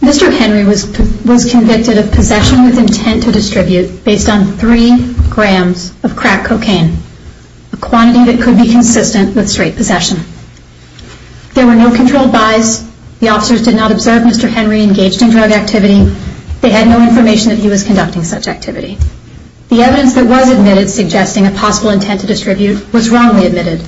Mr. Henry was convicted of possession with intent to distribute based on 3 grams of crack cocaine, a quantity that could be consistent with straight possession. There were no controlled information that he was conducting such activity. The evidence that was admitted suggesting a possible intent to distribute was wrongly admitted.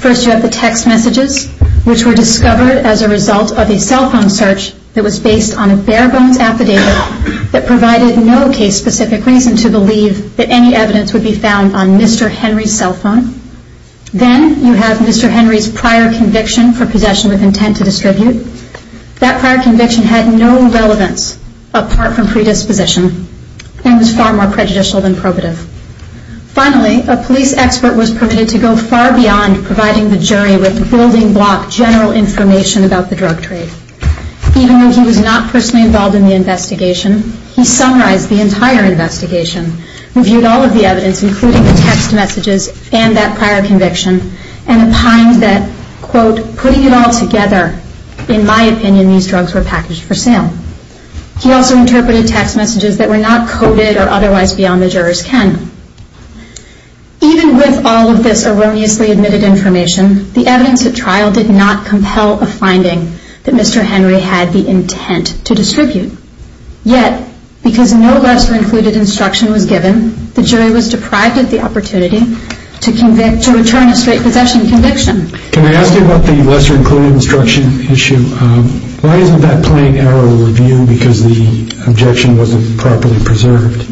First, you have the text messages, which were discovered as a result of a cell phone search that was based on a bare-bones affidavit that provided no case-specific reason to believe that any evidence would be found on Mr. Henry's cell phone. Then, you have Mr. Henry's prior conviction for possession with intent to distribute. That prior conviction had no relevance apart from predisposition and was far more prejudicial than probative. Finally, a police expert was permitted to go far beyond providing the jury with building block general information about the drug trade. Even though he was not personally involved in the investigation, he summarized the entire investigation, reviewed all of the evidence, including the text messages and that prior In my opinion, these drugs were packaged for sale. He also interpreted text messages that were not coded or otherwise beyond the juror's ken. Even with all of this erroneously admitted information, the evidence at trial did not compel a finding that Mr. Henry had the intent to distribute. Yet, because no lesser-included instruction was given, the jury was deprived of the opportunity to return a straight possession conviction. Can I ask you about the lesser-included instruction issue? Why isn't that plain error review because the objection wasn't properly preserved?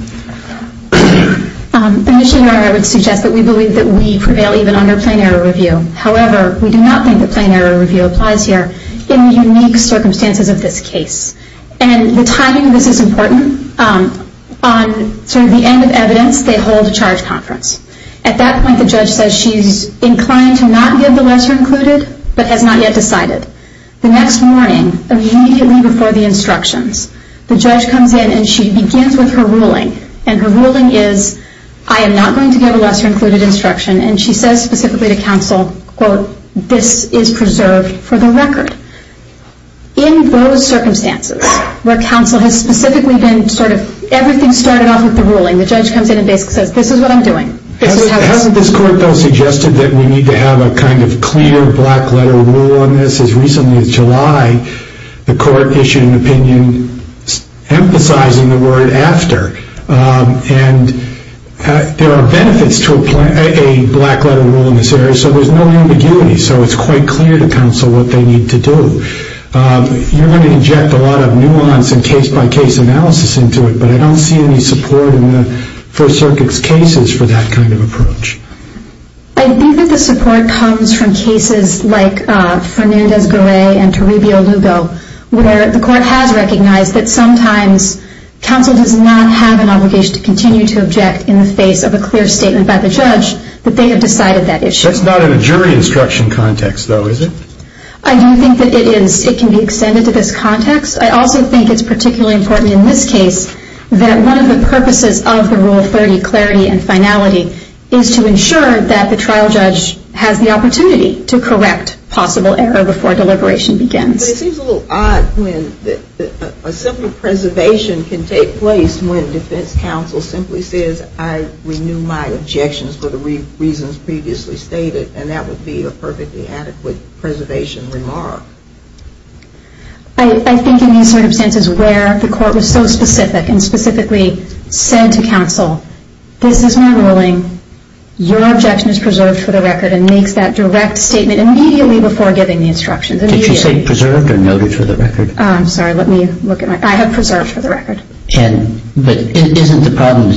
Initially, your Honor, I would suggest that we believe that we prevail even under plain error review. However, we do not think that plain error review applies here in the unique circumstances of this case. And the timing of this is important. On sort of the end of evidence, they hold a charge conference. At that point, the judge says she's inclined to not give the lesser-included, but has not yet decided. The next morning, immediately before the instructions, the judge comes in and she begins with her ruling. And her ruling is, I am not going to give a lesser-included instruction. And she says specifically to counsel, quote, this is preserved for the record. In those circumstances, where counsel has specifically been sort of, everything started off with the ruling, the judge comes in and basically says, this is what I'm doing. Hasn't this court, though, suggested that we need to have a kind of clear, black-letter rule on this? As recently as July, the court issued an opinion emphasizing the word after. And there are benefits to a black-letter rule in this area, so there's no ambiguity. So it's quite clear to counsel what they need to do. You're going to inject a lot of nuance and case-by-case analysis into it, but I don't see any support in the First Circuit's cases for that kind of approach. I think that the support comes from cases like Fernandez-Garay and Toribio-Lugo, where the court has recognized that sometimes counsel does not have an obligation to continue to object in the face of a clear statement by the judge that they have decided that issue. That's not in a jury instruction context, though, is it? I do think that it is. It can be extended to this context. I also think it's particularly important in this case that one of the purposes of the Rule 30, clarity and finality, is to ensure that the trial judge has the opportunity to correct possible error before deliberation begins. But it seems a little odd when a simple preservation can take place when defense counsel simply says, I renew my objections for the reasons previously stated, and that would be a perfectly adequate preservation remark. I think in these circumstances where the court was so specific and specifically said to counsel, this is my ruling, your objection is preserved for the record, and makes that direct statement immediately before giving the instructions. Did you say preserved or noted for the record? I'm sorry. Let me look at my – I have preserved for the record. But isn't the problem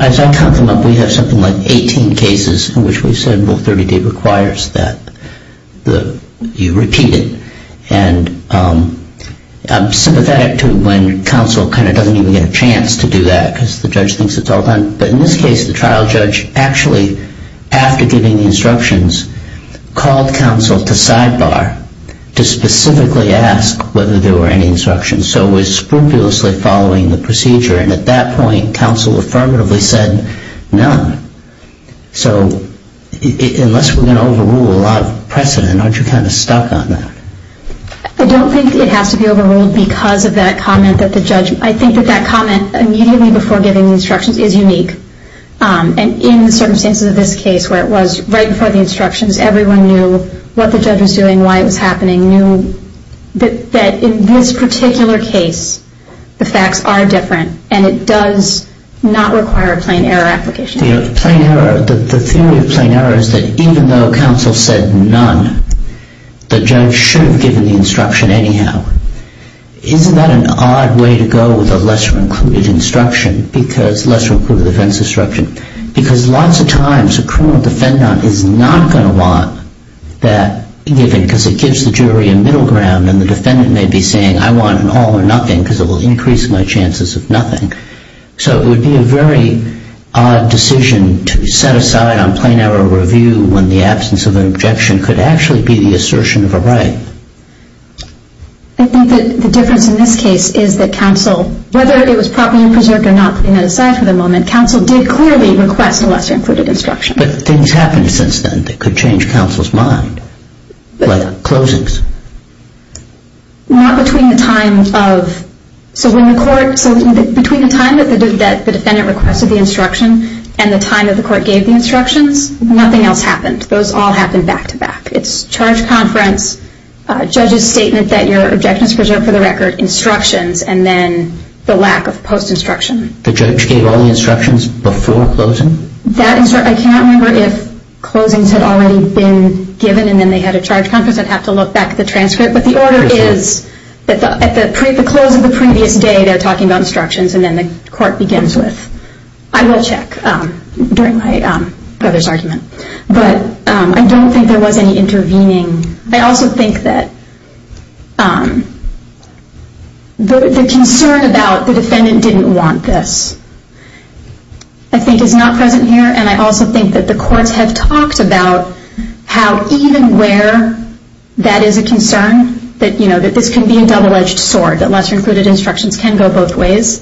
– as I count them up, we have something like 18 cases in which we said Rule 30D requires that you repeat it. And I'm sympathetic to when counsel kind of doesn't even get a chance to do that because the judge thinks it's all done. But in this case, the trial judge actually, after giving the instructions, called counsel to sidebar to specifically ask whether there were any instructions. So it was scrupulously following the procedure. And at that point, counsel affirmatively said none. So unless we're going to overrule a lot of precedent, aren't you kind of stuck on that? I don't think it has to be overruled because of that comment that the judge – I think that that comment immediately before giving the instructions is unique. And in the circumstances of this case where it was right before the instructions, everyone knew what the judge was doing, why it was happening, knew that in this particular case, the facts are different, and it does not require a plain error application. The theory of plain error is that even though counsel said none, the judge should have given the instruction anyhow. Isn't that an odd way to go with a lesser-included defense instruction? Because lots of times a criminal defendant is not going to want that given because it gives the jury a middle ground and the defendant may be saying, I want an all or nothing because it will increase my chances of nothing. So it would be a very odd decision to set aside on plain error review when the absence of an objection could actually be the assertion of a right. I think that the difference in this case is that counsel – whether it was properly preserved or not, putting that aside for the moment, counsel did clearly request a lesser-included instruction. But things happened since then that could change counsel's mind, like closings. Not between the time of – so when the court – so between the time that the defendant requested the instruction and the time that the court gave the instructions, nothing else happened. Those all happened back-to-back. It's charge conference, judge's statement that your objection is preserved for the record, instructions, and then the lack of post-instruction. The judge gave all the instructions before closing? That – I cannot remember if closings had already been given and then they had a charge conference. I'd have to look back at the transcript. But the order is that at the close of the previous day, they're talking about instructions and then the court begins with, I will check during my brother's argument. But I don't think there was any intervening. I also think that the concern about the defendant didn't want this, I think is not present here. And I also think that the courts have talked about how even where that is a concern, that this can be a double-edged sword, that lesser-included instructions can go both ways,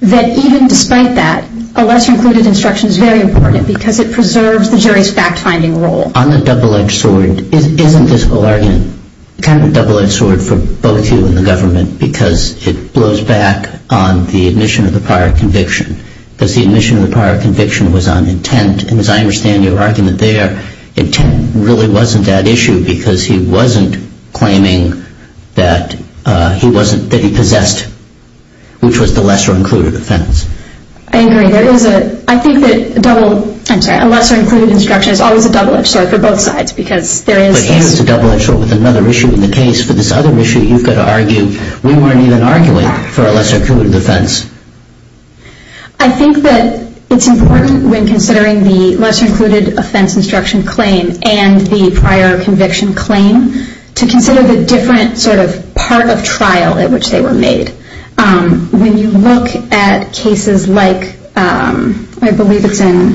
that even despite that, a lesser-included instruction is very important because it preserves the jury's fact-finding role. On the double-edged sword, isn't this a kind of double-edged sword for both you and the government because it blows back on the admission of the prior conviction? Because the admission of the prior conviction was on intent. And as I understand your argument there, intent really wasn't that issue because he wasn't claiming that he possessed, which was the lesser-included offense. I agree. I think that a lesser-included instruction is always a double-edged sword for both sides because there is this. But here's a double-edged sword with another issue in the case. For this other issue, you've got to argue, we weren't even arguing for a lesser-included offense. I think that it's important when considering the lesser-included offense instruction claim and the prior conviction claim to consider the different sort of part of trial at which they were made. When you look at cases like, I believe it's in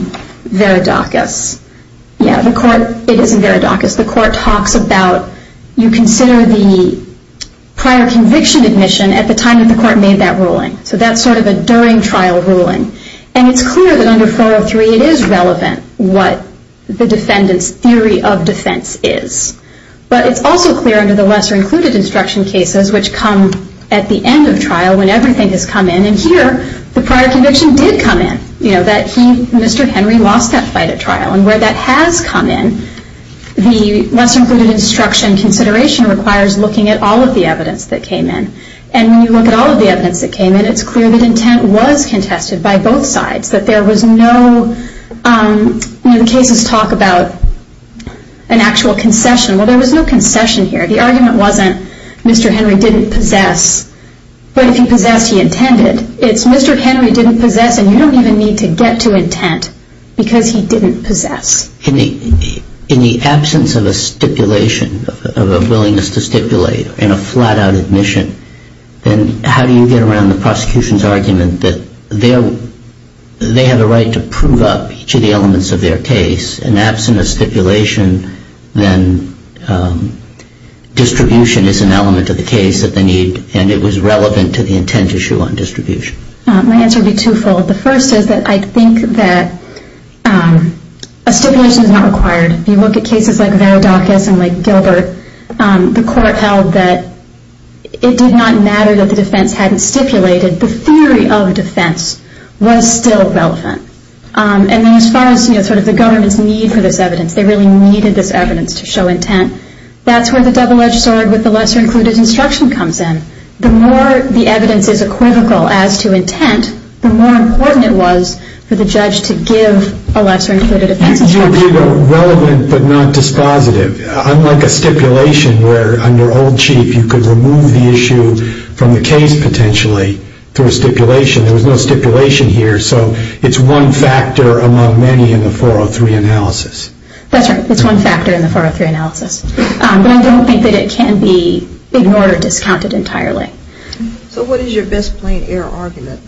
Veridacus. Yeah, the court, it is in Veridacus. The court talks about, you consider the prior conviction admission at the time that the court made that ruling. So that's sort of a during trial ruling. And it's clear that under 403, it is relevant what the defendant's theory of defense is. But it's also clear under the lesser-included instruction cases, which come at the end of trial when everything has come in. And here, the prior conviction did come in. You know, that he, Mr. Henry, lost that fight at trial. And where that has come in, the lesser-included instruction consideration requires looking at all of the evidence that came in. And when you look at all of the evidence that came in, it's clear that intent was contested by both sides, that there was no, you know, the cases talk about an actual concession. Well, there was no concession here. The argument wasn't Mr. Henry didn't possess, but if he possessed, he intended. It's Mr. Henry didn't possess, and you don't even need to get to intent because he didn't possess. In the absence of a stipulation, of a willingness to stipulate in a flat-out admission, then how do you get around the prosecution's argument that they have a right to prove up each of the elements of their case? And absent a stipulation, then distribution is an element of the case that they need, and it was relevant to the intent issue on distribution. My answer would be twofold. The first is that I think that a stipulation is not required. If you look at cases like Varadakis and like Gilbert, the court held that it did not matter that the defense hadn't stipulated. The theory of defense was still relevant. And then as far as, you know, sort of the government's need for this evidence, they really needed this evidence to show intent, that's where the double-edged sword with the lesser-included instruction comes in. The more the evidence is equivocal as to intent, the more important it was for the judge to give a lesser-included defense instruction. It would be relevant but not dispositive, unlike a stipulation where under old chief you could remove the issue from the case potentially through a stipulation. There was no stipulation here, so it's one factor among many in the 403 analysis. That's right. It's one factor in the 403 analysis. But I don't think that it can be ignored or discounted entirely. So what is your best-planned-error argument?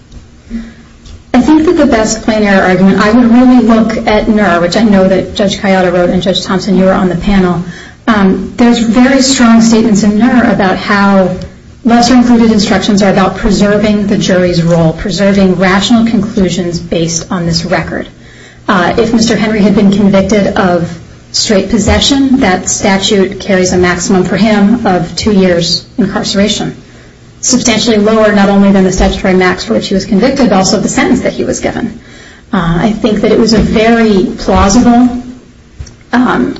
I think that the best-planned-error argument, I would really look at NUR, which I know that Judge Coyotta wrote and Judge Thompson, you were on the panel. There's very strong statements in NUR about how lesser-included instructions are about preserving the jury's role, preserving rational conclusions based on this record. If Mr. Henry had been convicted of straight possession, that statute carries a maximum for him of two years' incarceration. Substantially lower not only than the statutory max for which he was convicted, but also the sentence that he was given. I think that it was a very plausible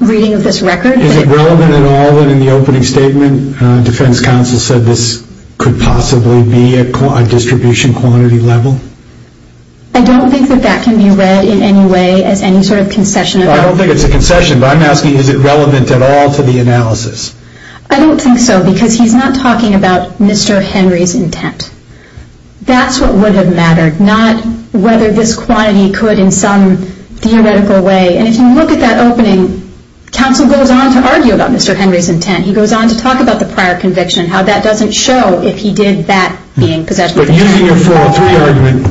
reading of this record. Is it relevant at all that in the opening statement, defense counsel said this could possibly be a distribution quantity level? I don't think that that can be read in any way as any sort of concession. I don't think it's a concession, but I'm asking is it relevant at all to the analysis? I don't think so, because he's not talking about Mr. Henry's intent. That's what would have mattered, not whether this quantity could in some theoretical way. And if you look at that opening, counsel goes on to argue about Mr. Henry's intent. He goes on to talk about the prior conviction and how that doesn't show if he did that being possessed. But using your 403 argument,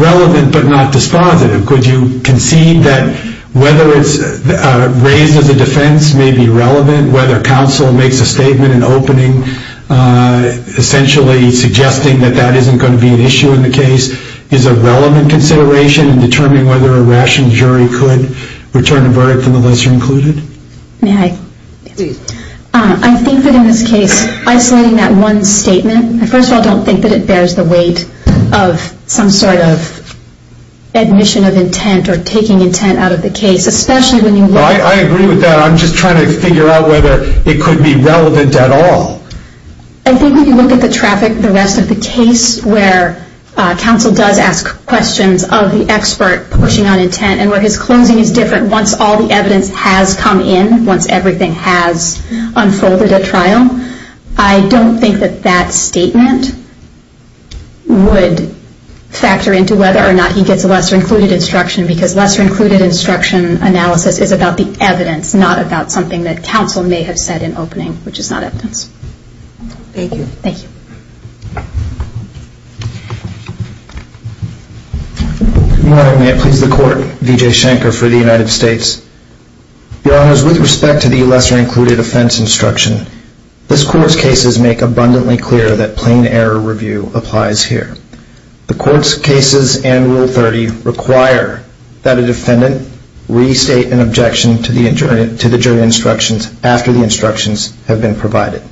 relevant but not dispositive, could you concede that whether it's raised as a defense may be relevant, whether counsel makes a statement in opening essentially suggesting that that isn't going to be an issue in the case is a relevant consideration in determining whether a rationed jury could return a verdict from the lesser included? May I? Please. I think that in this case, isolating that one statement, I first of all don't think that it bears the weight of some sort of admission of intent or taking intent out of the case, especially when you look at- I agree with that. I'm just trying to figure out whether it could be relevant at all. I think when you look at the traffic, the rest of the case, where counsel does ask questions of the expert pushing on intent and where his closing is different once all the evidence has come in, once everything has unfolded at trial, I don't think that that statement would factor into whether or not he gets a lesser included instruction because lesser included instruction analysis is about the evidence, not about something that counsel may have said in opening, which is not evidence. Thank you. Thank you. Good morning. May it please the Court, Vijay Shankar for the United States. Your Honors, with respect to the lesser included offense instruction, this Court's cases make abundantly clear that plain error review applies here. The Court's cases and Rule 30 require that a defendant restate an objection to the jury instructions after the instructions have been provided.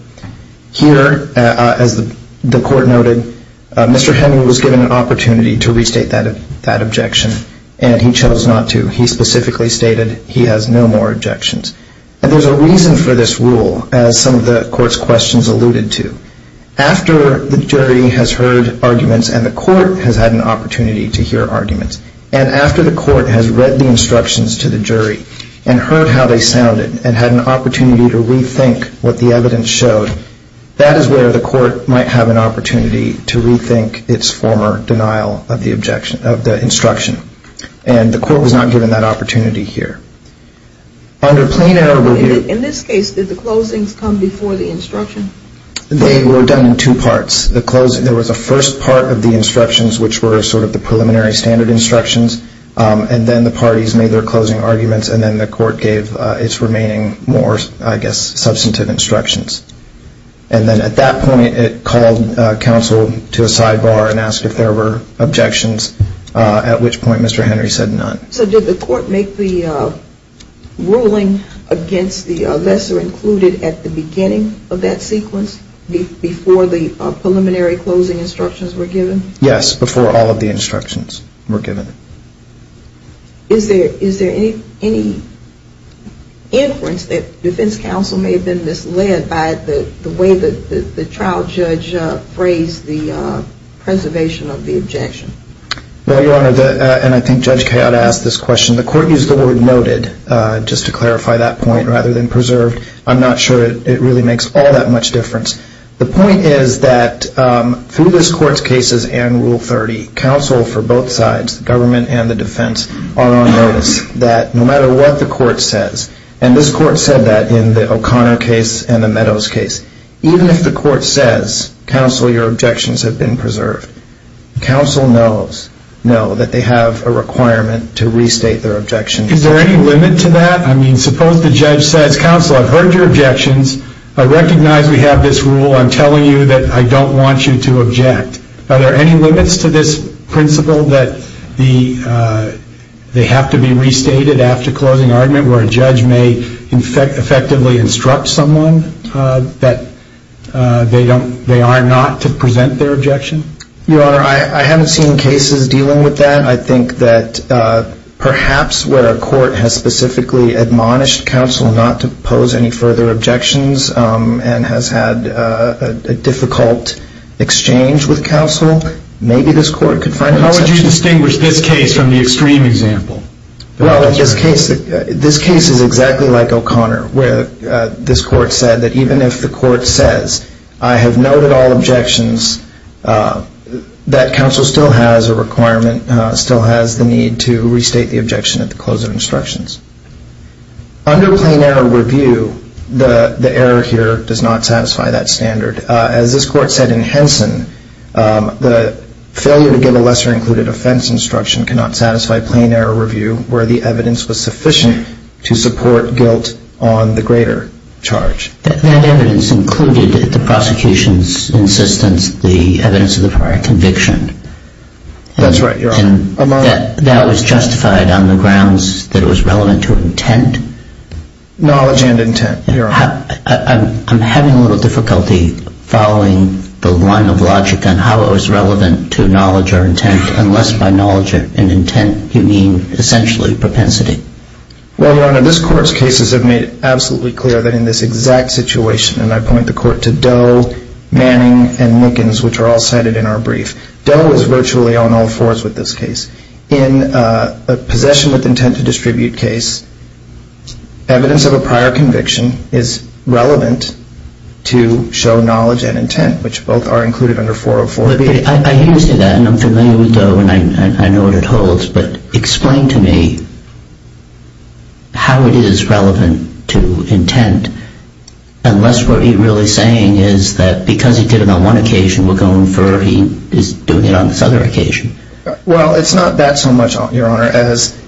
Here, as the Court noted, Mr. Heming was given an opportunity to restate that objection, and he chose not to. He specifically stated he has no more objections. And there's a reason for this rule, as some of the Court's questions alluded to. After the jury has heard arguments and the Court has had an opportunity to hear arguments, and after the Court has read the instructions to the jury and heard how they sounded and had an opportunity to rethink what the evidence showed, that is where the Court might have an opportunity to rethink its former denial of the instruction. And the Court was not given that opportunity here. In this case, did the closings come before the instruction? They were done in two parts. There was a first part of the instructions, which were sort of the preliminary standard instructions, and then the parties made their closing arguments, and then the Court gave its remaining more, I guess, substantive instructions. And then at that point, it called counsel to a sidebar and asked if there were objections, at which point Mr. Henry said none. So did the Court make the ruling against the lesser included at the beginning of that sequence, before the preliminary closing instructions were given? Yes, before all of the instructions were given. Is there any inference that defense counsel may have been misled by the way that the trial judge phrased the preservation of the objection? Well, Your Honor, and I think Judge Kayotte asked this question. The Court used the word noted, just to clarify that point, rather than preserved. I'm not sure it really makes all that much difference. The point is that through this Court's cases and Rule 30, counsel for both sides, the government and the defense, are on notice that no matter what the Court says, and this Court said that in the O'Connor case and the Meadows case, even if the Court says, counsel, your objections have been preserved, counsel knows that they have a requirement to restate their objections. Is there any limit to that? I mean, suppose the judge says, counsel, I've heard your objections. I recognize we have this rule. I'm telling you that I don't want you to object. Are there any limits to this principle that they have to be restated after closing argument where a judge may effectively instruct someone that they are not to present their objection? Your Honor, I haven't seen cases dealing with that. I think that perhaps where a court has specifically admonished counsel not to pose any further objections and has had a difficult exchange with counsel, maybe this Court could find an exception. How would you distinguish this case from the extreme example? Well, this case is exactly like O'Connor where this Court said that even if the Court says, I have noted all objections, that counsel still has a requirement, still has the need to restate the objection at the close of instructions. Under plain error review, the error here does not satisfy that standard. As this Court said in Henson, the failure to give a lesser included offense instruction cannot satisfy plain error review where the evidence was sufficient to support guilt on the greater charge. That evidence included the prosecution's insistence, the evidence of the prior conviction. That's right, Your Honor. That was justified on the grounds that it was relevant to intent? Knowledge and intent, Your Honor. I'm having a little difficulty following the line of logic on how it was relevant to knowledge or intent unless by knowledge and intent you mean essentially propensity. Well, Your Honor, this Court's cases have made it absolutely clear that in this exact situation, and I point the Court to Doe, Manning, and Mickens, which are all cited in our brief, Doe is virtually on all fours with this case. In a possession with intent to distribute case, evidence of a prior conviction is relevant to show knowledge and intent, which both are included under 404B. I hear you say that, and I'm familiar with Doe, and I know what it holds, but explain to me how it is relevant to intent unless what he's really saying is that because he did it on one occasion, we're going to infer he is doing it on this other occasion. Well, it's not that so much, Your Honor. As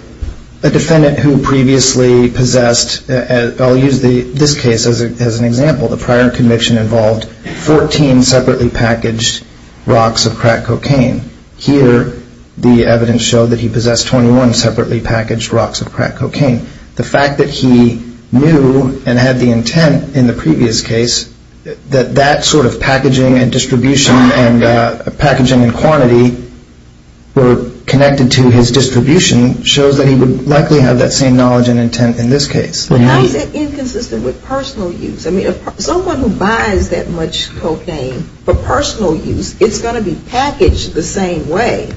a defendant who previously possessed, I'll use this case as an example. The prior conviction involved 14 separately packaged rocks of crack cocaine. Here the evidence showed that he possessed 21 separately packaged rocks of crack cocaine. The fact that he knew and had the intent in the previous case that that sort of packaging and distribution and packaging and quantity were connected to his distribution shows that he would likely have that same knowledge and intent in this case. But how is it inconsistent with personal use? I mean, if someone who buys that much cocaine for personal use, it's going to be packaged the same way.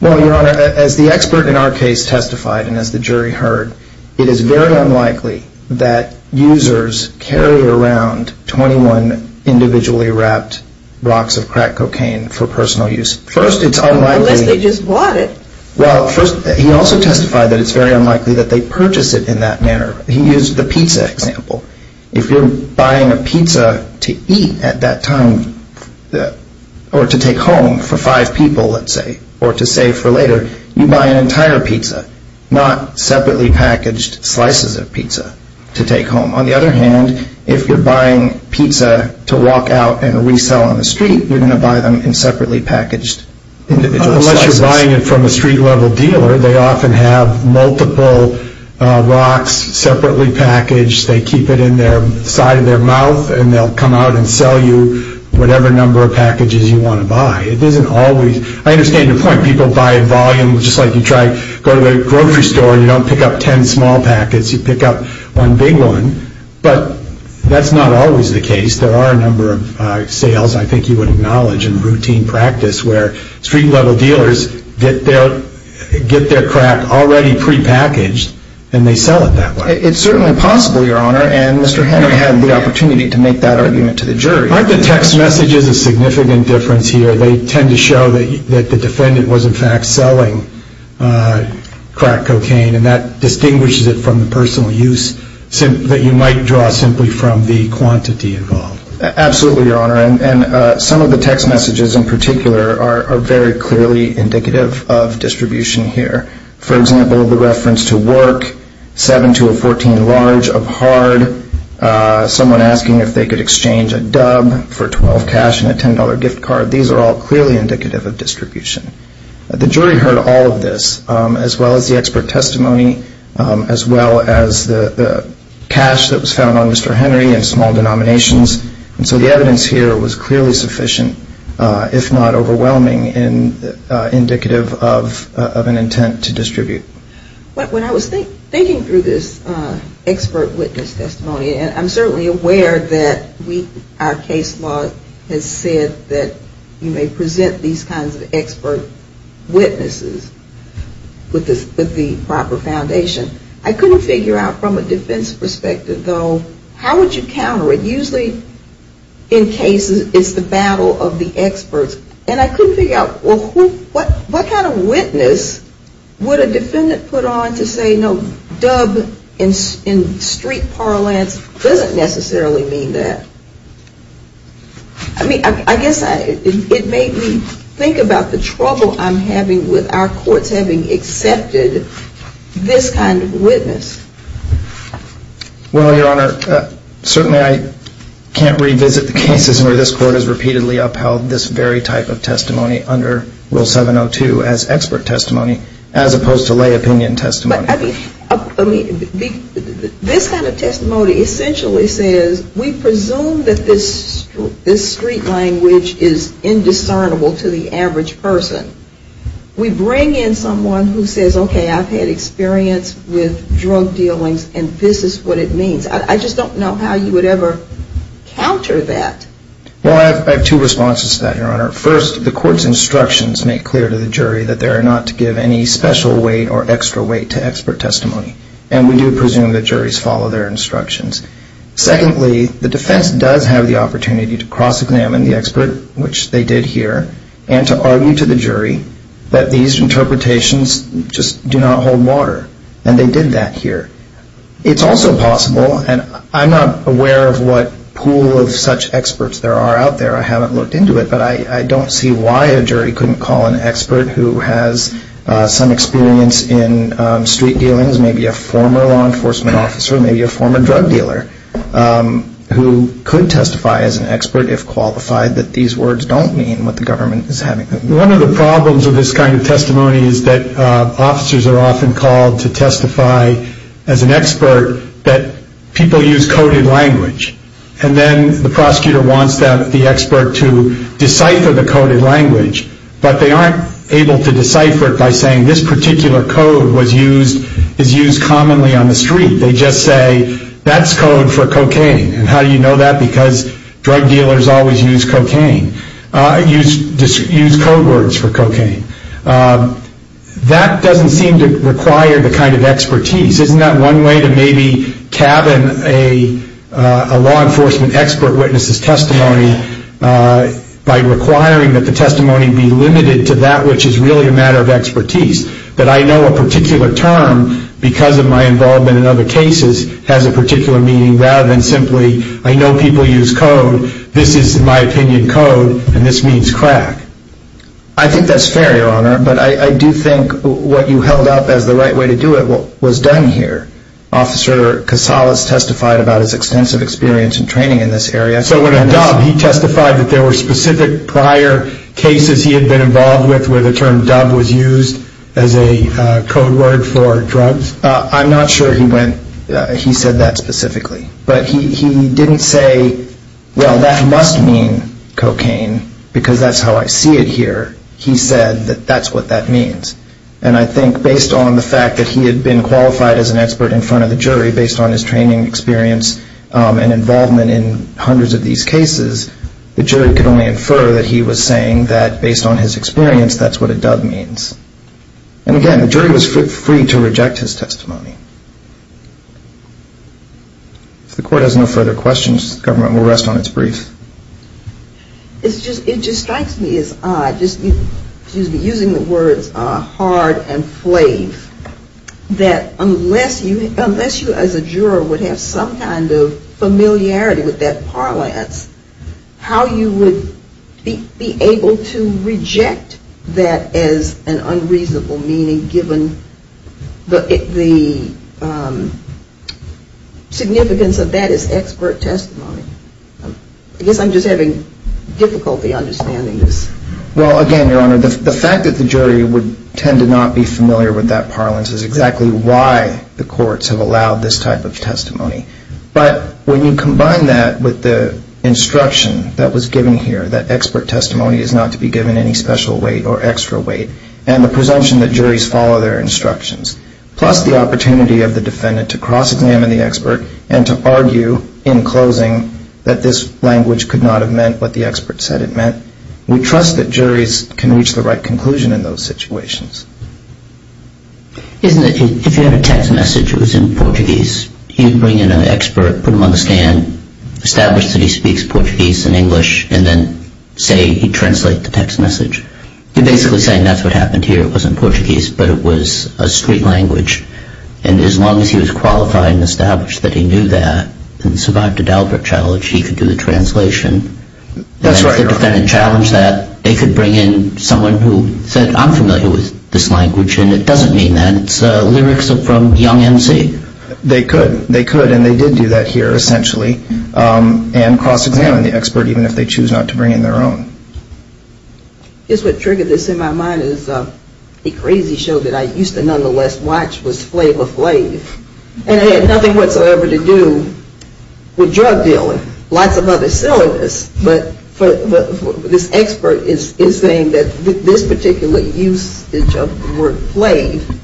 Well, Your Honor, as the expert in our case testified and as the jury heard, it is very unlikely that users carry around 21 individually wrapped rocks of crack cocaine for personal use. Unless they just bought it. Well, he also testified that it's very unlikely that they purchase it in that manner. He used the pizza example. If you're buying a pizza to eat at that time or to take home for five people, let's say, or to save for later, you buy an entire pizza, not separately packaged slices of pizza to take home. On the other hand, if you're buying pizza to walk out and resell on the street, you're going to buy them in separately packaged individual slices. Unless you're buying it from a street-level dealer. They often have multiple rocks separately packaged. They keep it in the side of their mouth, and they'll come out and sell you whatever number of packages you want to buy. I understand the point. People buy in volume, just like you try to go to the grocery store, and you don't pick up ten small packets. You pick up one big one. But that's not always the case. There are a number of sales I think you would acknowledge in routine practice where street-level dealers get their crack already prepackaged, and they sell it that way. It's certainly possible, Your Honor, and Mr. Henry had the opportunity to make that argument to the jury. Aren't the text messages a significant difference here? They tend to show that the defendant was in fact selling crack cocaine, and that distinguishes it from the personal use that you might draw simply from the quantity involved. Absolutely, Your Honor. Some of the text messages in particular are very clearly indicative of distribution here. For example, the reference to work, 7 to a 14 large of hard. Someone asking if they could exchange a dub for 12 cash and a $10 gift card. These are all clearly indicative of distribution. The jury heard all of this, as well as the expert testimony, as well as the cash that was found on Mr. Henry in small denominations. And so the evidence here was clearly sufficient, if not overwhelming, indicative of an intent to distribute. When I was thinking through this expert witness testimony, and I'm certainly aware that our case law has said that you may present these kinds of expert witnesses with the proper foundation, I couldn't figure out from a defense perspective, though, how would you counter it? Usually in cases it's the battle of the experts, and I couldn't figure out, well, what kind of witness would a defendant put on this case? I mean, I guess it made me think about the trouble I'm having with our courts having accepted this kind of witness. Well, Your Honor, certainly I can't revisit the cases where this court has repeatedly upheld this very type of testimony under Rule 702 as expert testimony, as opposed to lay opinion testimony. But, I mean, this kind of testimony essentially says we presume that this street language is indiscernible to the average person. We bring in someone who says, okay, I've had experience with drug dealings, and this is what it means. I just don't know how you would ever counter that. Well, I have two responses to that, Your Honor. First, the court's instructions make clear to the jury that they are not to give any special weight or extra weight to expert testimony. And we do presume that juries follow their instructions. Secondly, the defense does have the opportunity to cross-examine the expert, which they did here, and to argue to the jury that these interpretations just do not hold water. And they did that here. It's also possible, and I'm not aware of what pool of such experts there are out there. I haven't looked into it. But I don't see why a jury couldn't call an expert who has some experience in street dealings, maybe a former law enforcement officer, maybe a former drug dealer, who could testify as an expert if qualified that these words don't mean what the government is having them do. One of the problems with this kind of testimony is that officers are often called to testify as an expert that people use coded language. And then the prosecutor wants the expert to decipher the coded language, but they aren't able to decipher it by saying this particular code is used commonly on the street. They just say, that's code for cocaine, and how do you know that? Because drug dealers always use cocaine, use code words for cocaine. That doesn't seem to require the kind of expertise. Isn't that one way to maybe cabin a law enforcement expert witness's testimony by requiring that the testimony be limited to that which is really a matter of expertise? That I know a particular term, because of my involvement in other cases, has a particular meaning, rather than simply, I know people use code, this is, in my opinion, code, and this means crack. I think that's fair, Your Honor, but I do think what you held up as the right way to do it was done here. Officer Casales testified about his extensive experience and training in this area. So when a dub, he testified that there were specific prior cases he had been involved with where the term dub was used as a code word for drugs? I'm not sure he went, he said that specifically. But he didn't say, well, that must mean cocaine, because that's how I see it here. He said that that's what that means. And I think based on the fact that he had been qualified as an expert in front of the jury, based on his training experience and involvement in hundreds of these cases, the jury could only infer that he was saying that, based on his experience, that's what a dub means. And again, the jury was free to reject his testimony. If the court has no further questions, the government will rest on its brief. It just strikes me as odd, using the words hard and flave, that unless you as a juror would have some kind of familiarity with that parlance, how you would be able to reject that as an unreasonable meaning, given the significance of that as expert testimony? I guess I'm just having difficulty understanding this. Well, again, Your Honor, the fact that the jury would tend to not be familiar with that parlance is exactly why the courts have allowed this type of testimony. But when you combine that with the instruction that was given here, that expert testimony is not to be given any special weight or extra weight, and the presumption that juries follow their instructions, plus the opportunity of the defendant to cross-examine the expert and to argue in closing that this language could not have meant what the expert said it meant, we trust that juries can reach the right conclusion in those situations. If you had a text message that was in Portuguese, you'd bring in an expert, put him on the stand, establish that he speaks Portuguese and English, and then say he'd translate the text message. You're basically saying that's what happened here. It wasn't Portuguese, but it was a street language. And as long as he was qualified and established that he knew that, and survived a Dalbert challenge, he could do the translation. That's right, Your Honor. If the defendant challenged that, they could bring in someone who said, I'm familiar with this language, and it doesn't mean that. It's lyrics from young MC. They could. They could, and they did do that here, essentially, and cross-examine the expert even if they choose not to bring in their own. I guess what triggered this in my mind is a crazy show that I used to nonetheless watch was Flavor Flav. And it had nothing whatsoever to do with drug dealing. Lots of other silliness. But this expert is saying that this particular usage of the word Flav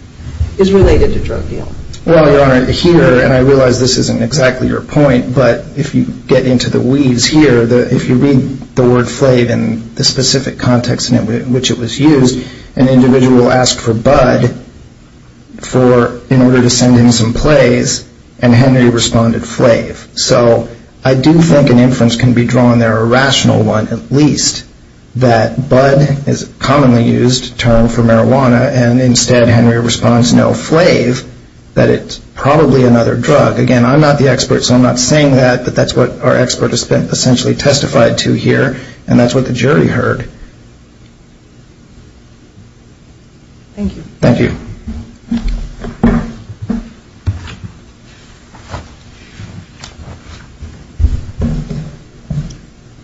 is related to drug dealing. Well, Your Honor, here, and I realize this isn't exactly your point, but if you get into the weeds here, if you read the word Flav and the specific context in which it was used, an individual asked for Bud in order to send him some plays, and Henry responded Flav. So I do think an inference can be drawn there, a rational one at least, that Bud is a commonly used term for marijuana, and instead Henry responds no Flav, that it's probably another drug. Again, I'm not the expert, so I'm not saying that, but that's what our expert has essentially testified to here, and that's what the jury heard. Thank you. Thank you.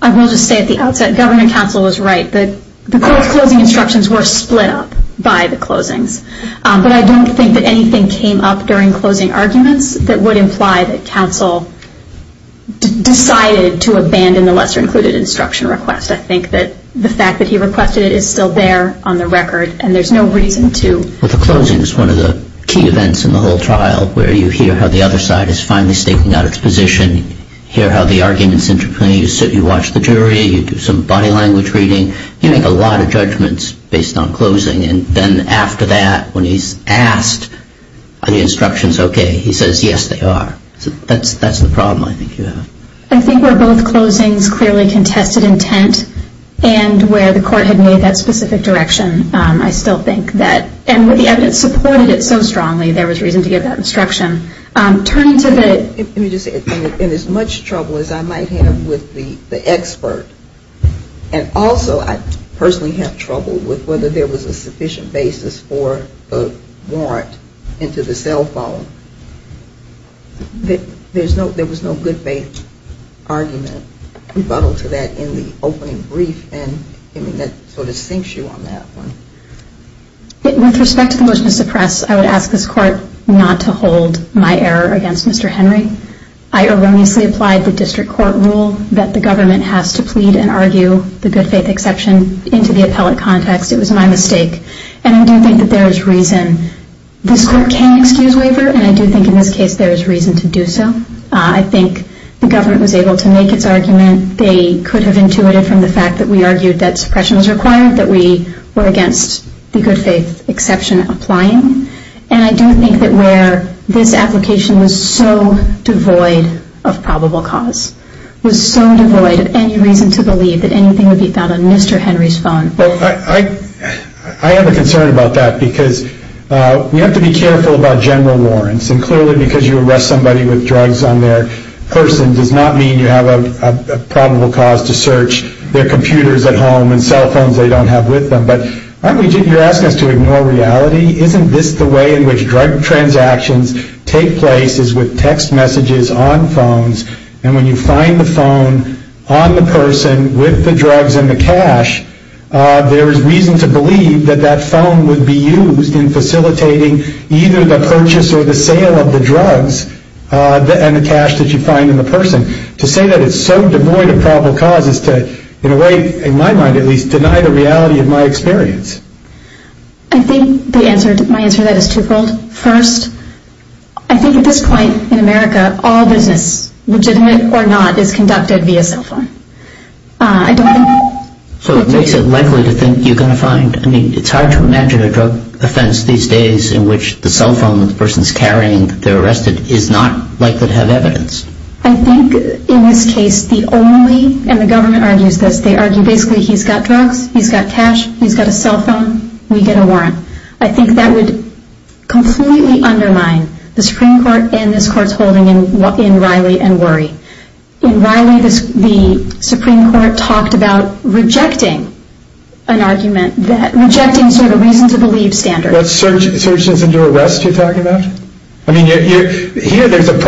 I will just say at the outset, Governor Counsel was right. The court's closing instructions were split up by the closings, but I don't think that anything came up during closing arguments that would imply that counsel decided to abandon the lesser included instruction request. I think that the fact that he requested it is still there on the record, and there's no reason to. Well, the closing is one of the key events in the whole trial, where you hear how the other side is finally staking out its position, hear how the arguments interplay, you watch the jury, you do some body language reading, you make a lot of judgments based on closing, and then after that, when he's asked are the instructions okay, he says yes, they are. So that's the problem I think you have. I think where both closings clearly contested intent and where the court had made that specific direction, I still think that, and where the evidence supported it so strongly, there was reason to give that instruction. Turning to the... Let me just say, in as much trouble as I might have with the expert, and also I personally have trouble with whether there was a sufficient basis for a warrant into the cell phone, there was no good faith argument. Rebuttal to that in the opening brief, and that sort of sinks you on that one. With respect to the motion to suppress, I would ask this court not to hold my error against Mr. Henry. I erroneously applied the district court rule that the government has to plead and argue the good faith exception into the appellate context. It was my mistake, and I do think that there is reason. This court can excuse waiver, and I do think in this case there is reason to do so. I think the government was able to make its argument. They could have intuited from the fact that we argued that suppression was required, that we were against the good faith exception applying, and I do think that where this application was so devoid of probable cause, was so devoid of any reason to believe that anything would be found on Mr. Henry's phone. I have a concern about that because we have to be careful about general warrants, and clearly because you arrest somebody with drugs on their person does not mean you have a probable cause to search their computers at home and cell phones they don't have with them. But you're asking us to ignore reality? Isn't this the way in which drug transactions take place is with text messages on phones, and when you find the phone on the person with the drugs and the cash, there is reason to believe that that phone would be used in facilitating either the purchase or the sale of the drugs and the cash that you find in the person. To say that it's so devoid of probable cause is to, in a way, in my mind at least, deny the reality of my experience. I think my answer to that is twofold. First, I think at this point in America all business, legitimate or not, is conducted via cell phone. So it makes it likely to think you're going to find, I mean it's hard to imagine a drug offense these days in which the cell phone the person is carrying that they're arrested is not likely to have evidence. I think in this case the only, and the government argues this, they argue basically he's got drugs, he's got cash, he's got a cell phone, we get a warrant. I think that would completely undermine the Supreme Court and this Court's holding in Riley and Worry. In Riley the Supreme Court talked about rejecting an argument, rejecting sort of a reason to believe standard. That searches into arrest you're talking about? I mean here there's an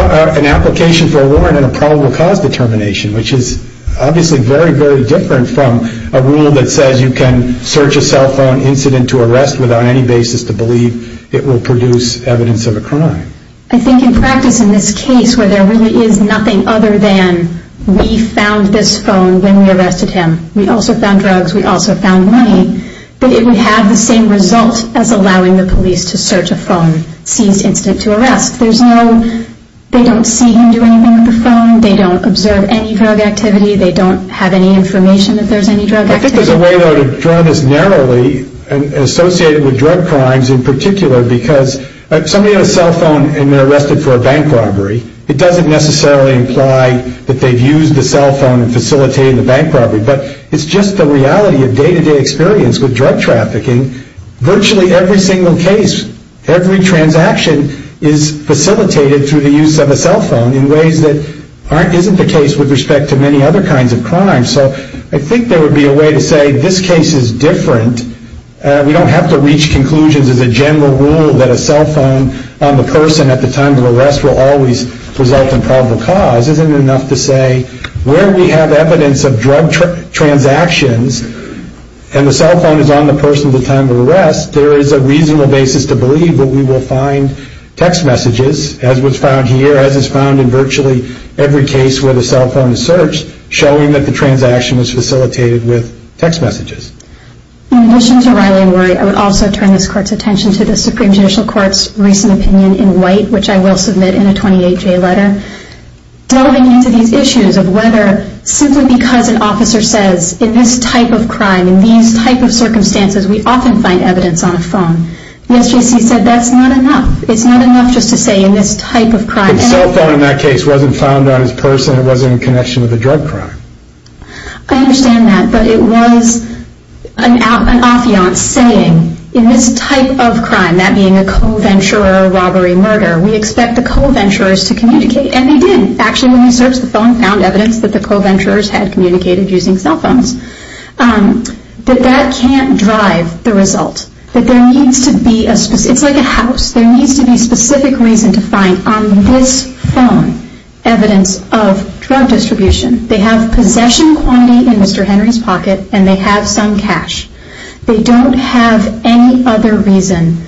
application for a warrant and a probable cause determination which is obviously very, very different from a rule that says you can search a cell phone incident to arrest without any basis to believe it will produce evidence of a crime. I think in practice in this case where there really is nothing other than we found this phone when we arrested him, we also found drugs, we also found money, that it would have the same result as allowing the police to search a phone seized incident to arrest. There's no, they don't see him do anything with the phone, they don't observe any drug activity, they don't have any information if there's any drug activity. I think there's a way though to draw this narrowly and associate it with drug crimes in particular because somebody had a cell phone and they're arrested for a bank robbery. It doesn't necessarily imply that they've used the cell phone in facilitating the bank robbery, but it's just the reality of day-to-day experience with drug trafficking. Virtually every single case, every transaction is facilitated through the use of a cell phone in ways that isn't the case with respect to many other kinds of crimes. So I think there would be a way to say this case is different. We don't have to reach conclusions as a general rule that a cell phone on the person at the time of arrest will always result in probable cause. Isn't it enough to say where we have evidence of drug transactions and the cell phone is on the person at the time of arrest, there is a reasonable basis to believe that we will find text messages, as was found here, as is found in virtually every case where the cell phone is searched, showing that the transaction was facilitated with text messages. In addition to Riley and Rory, I would also turn this Court's attention to the Supreme Judicial Court's recent opinion in White, which I will submit in a 28-J letter. Delving into these issues of whether simply because an officer says, in this type of crime, in these type of circumstances, we often find evidence on a phone. The SJC said that's not enough. It's not enough just to say in this type of crime. The cell phone in that case wasn't found on his person. It wasn't in connection with a drug crime. I understand that, but it was an affiance saying, in this type of crime, that being a co-venture or a robbery murder, we expect the co-venturers to communicate, and they did. Actually, when we searched the phone, we found evidence that the co-venturers had communicated using cell phones. But that can't drive the result. It's like a house. There needs to be specific reason to find on this phone evidence of drug distribution. They have possession quantity in Mr. Henry's pocket, and they have some cash. They don't have any other reason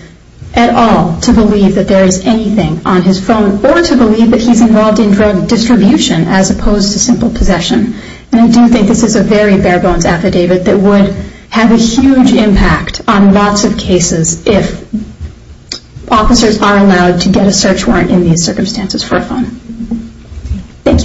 at all to believe that there is anything on his phone or to believe that he's involved in drug distribution as opposed to simple possession. And I do think this is a very bare-bones affidavit that would have a huge impact on lots of cases if officers are allowed to get a search warrant in these circumstances for a phone. Thank you.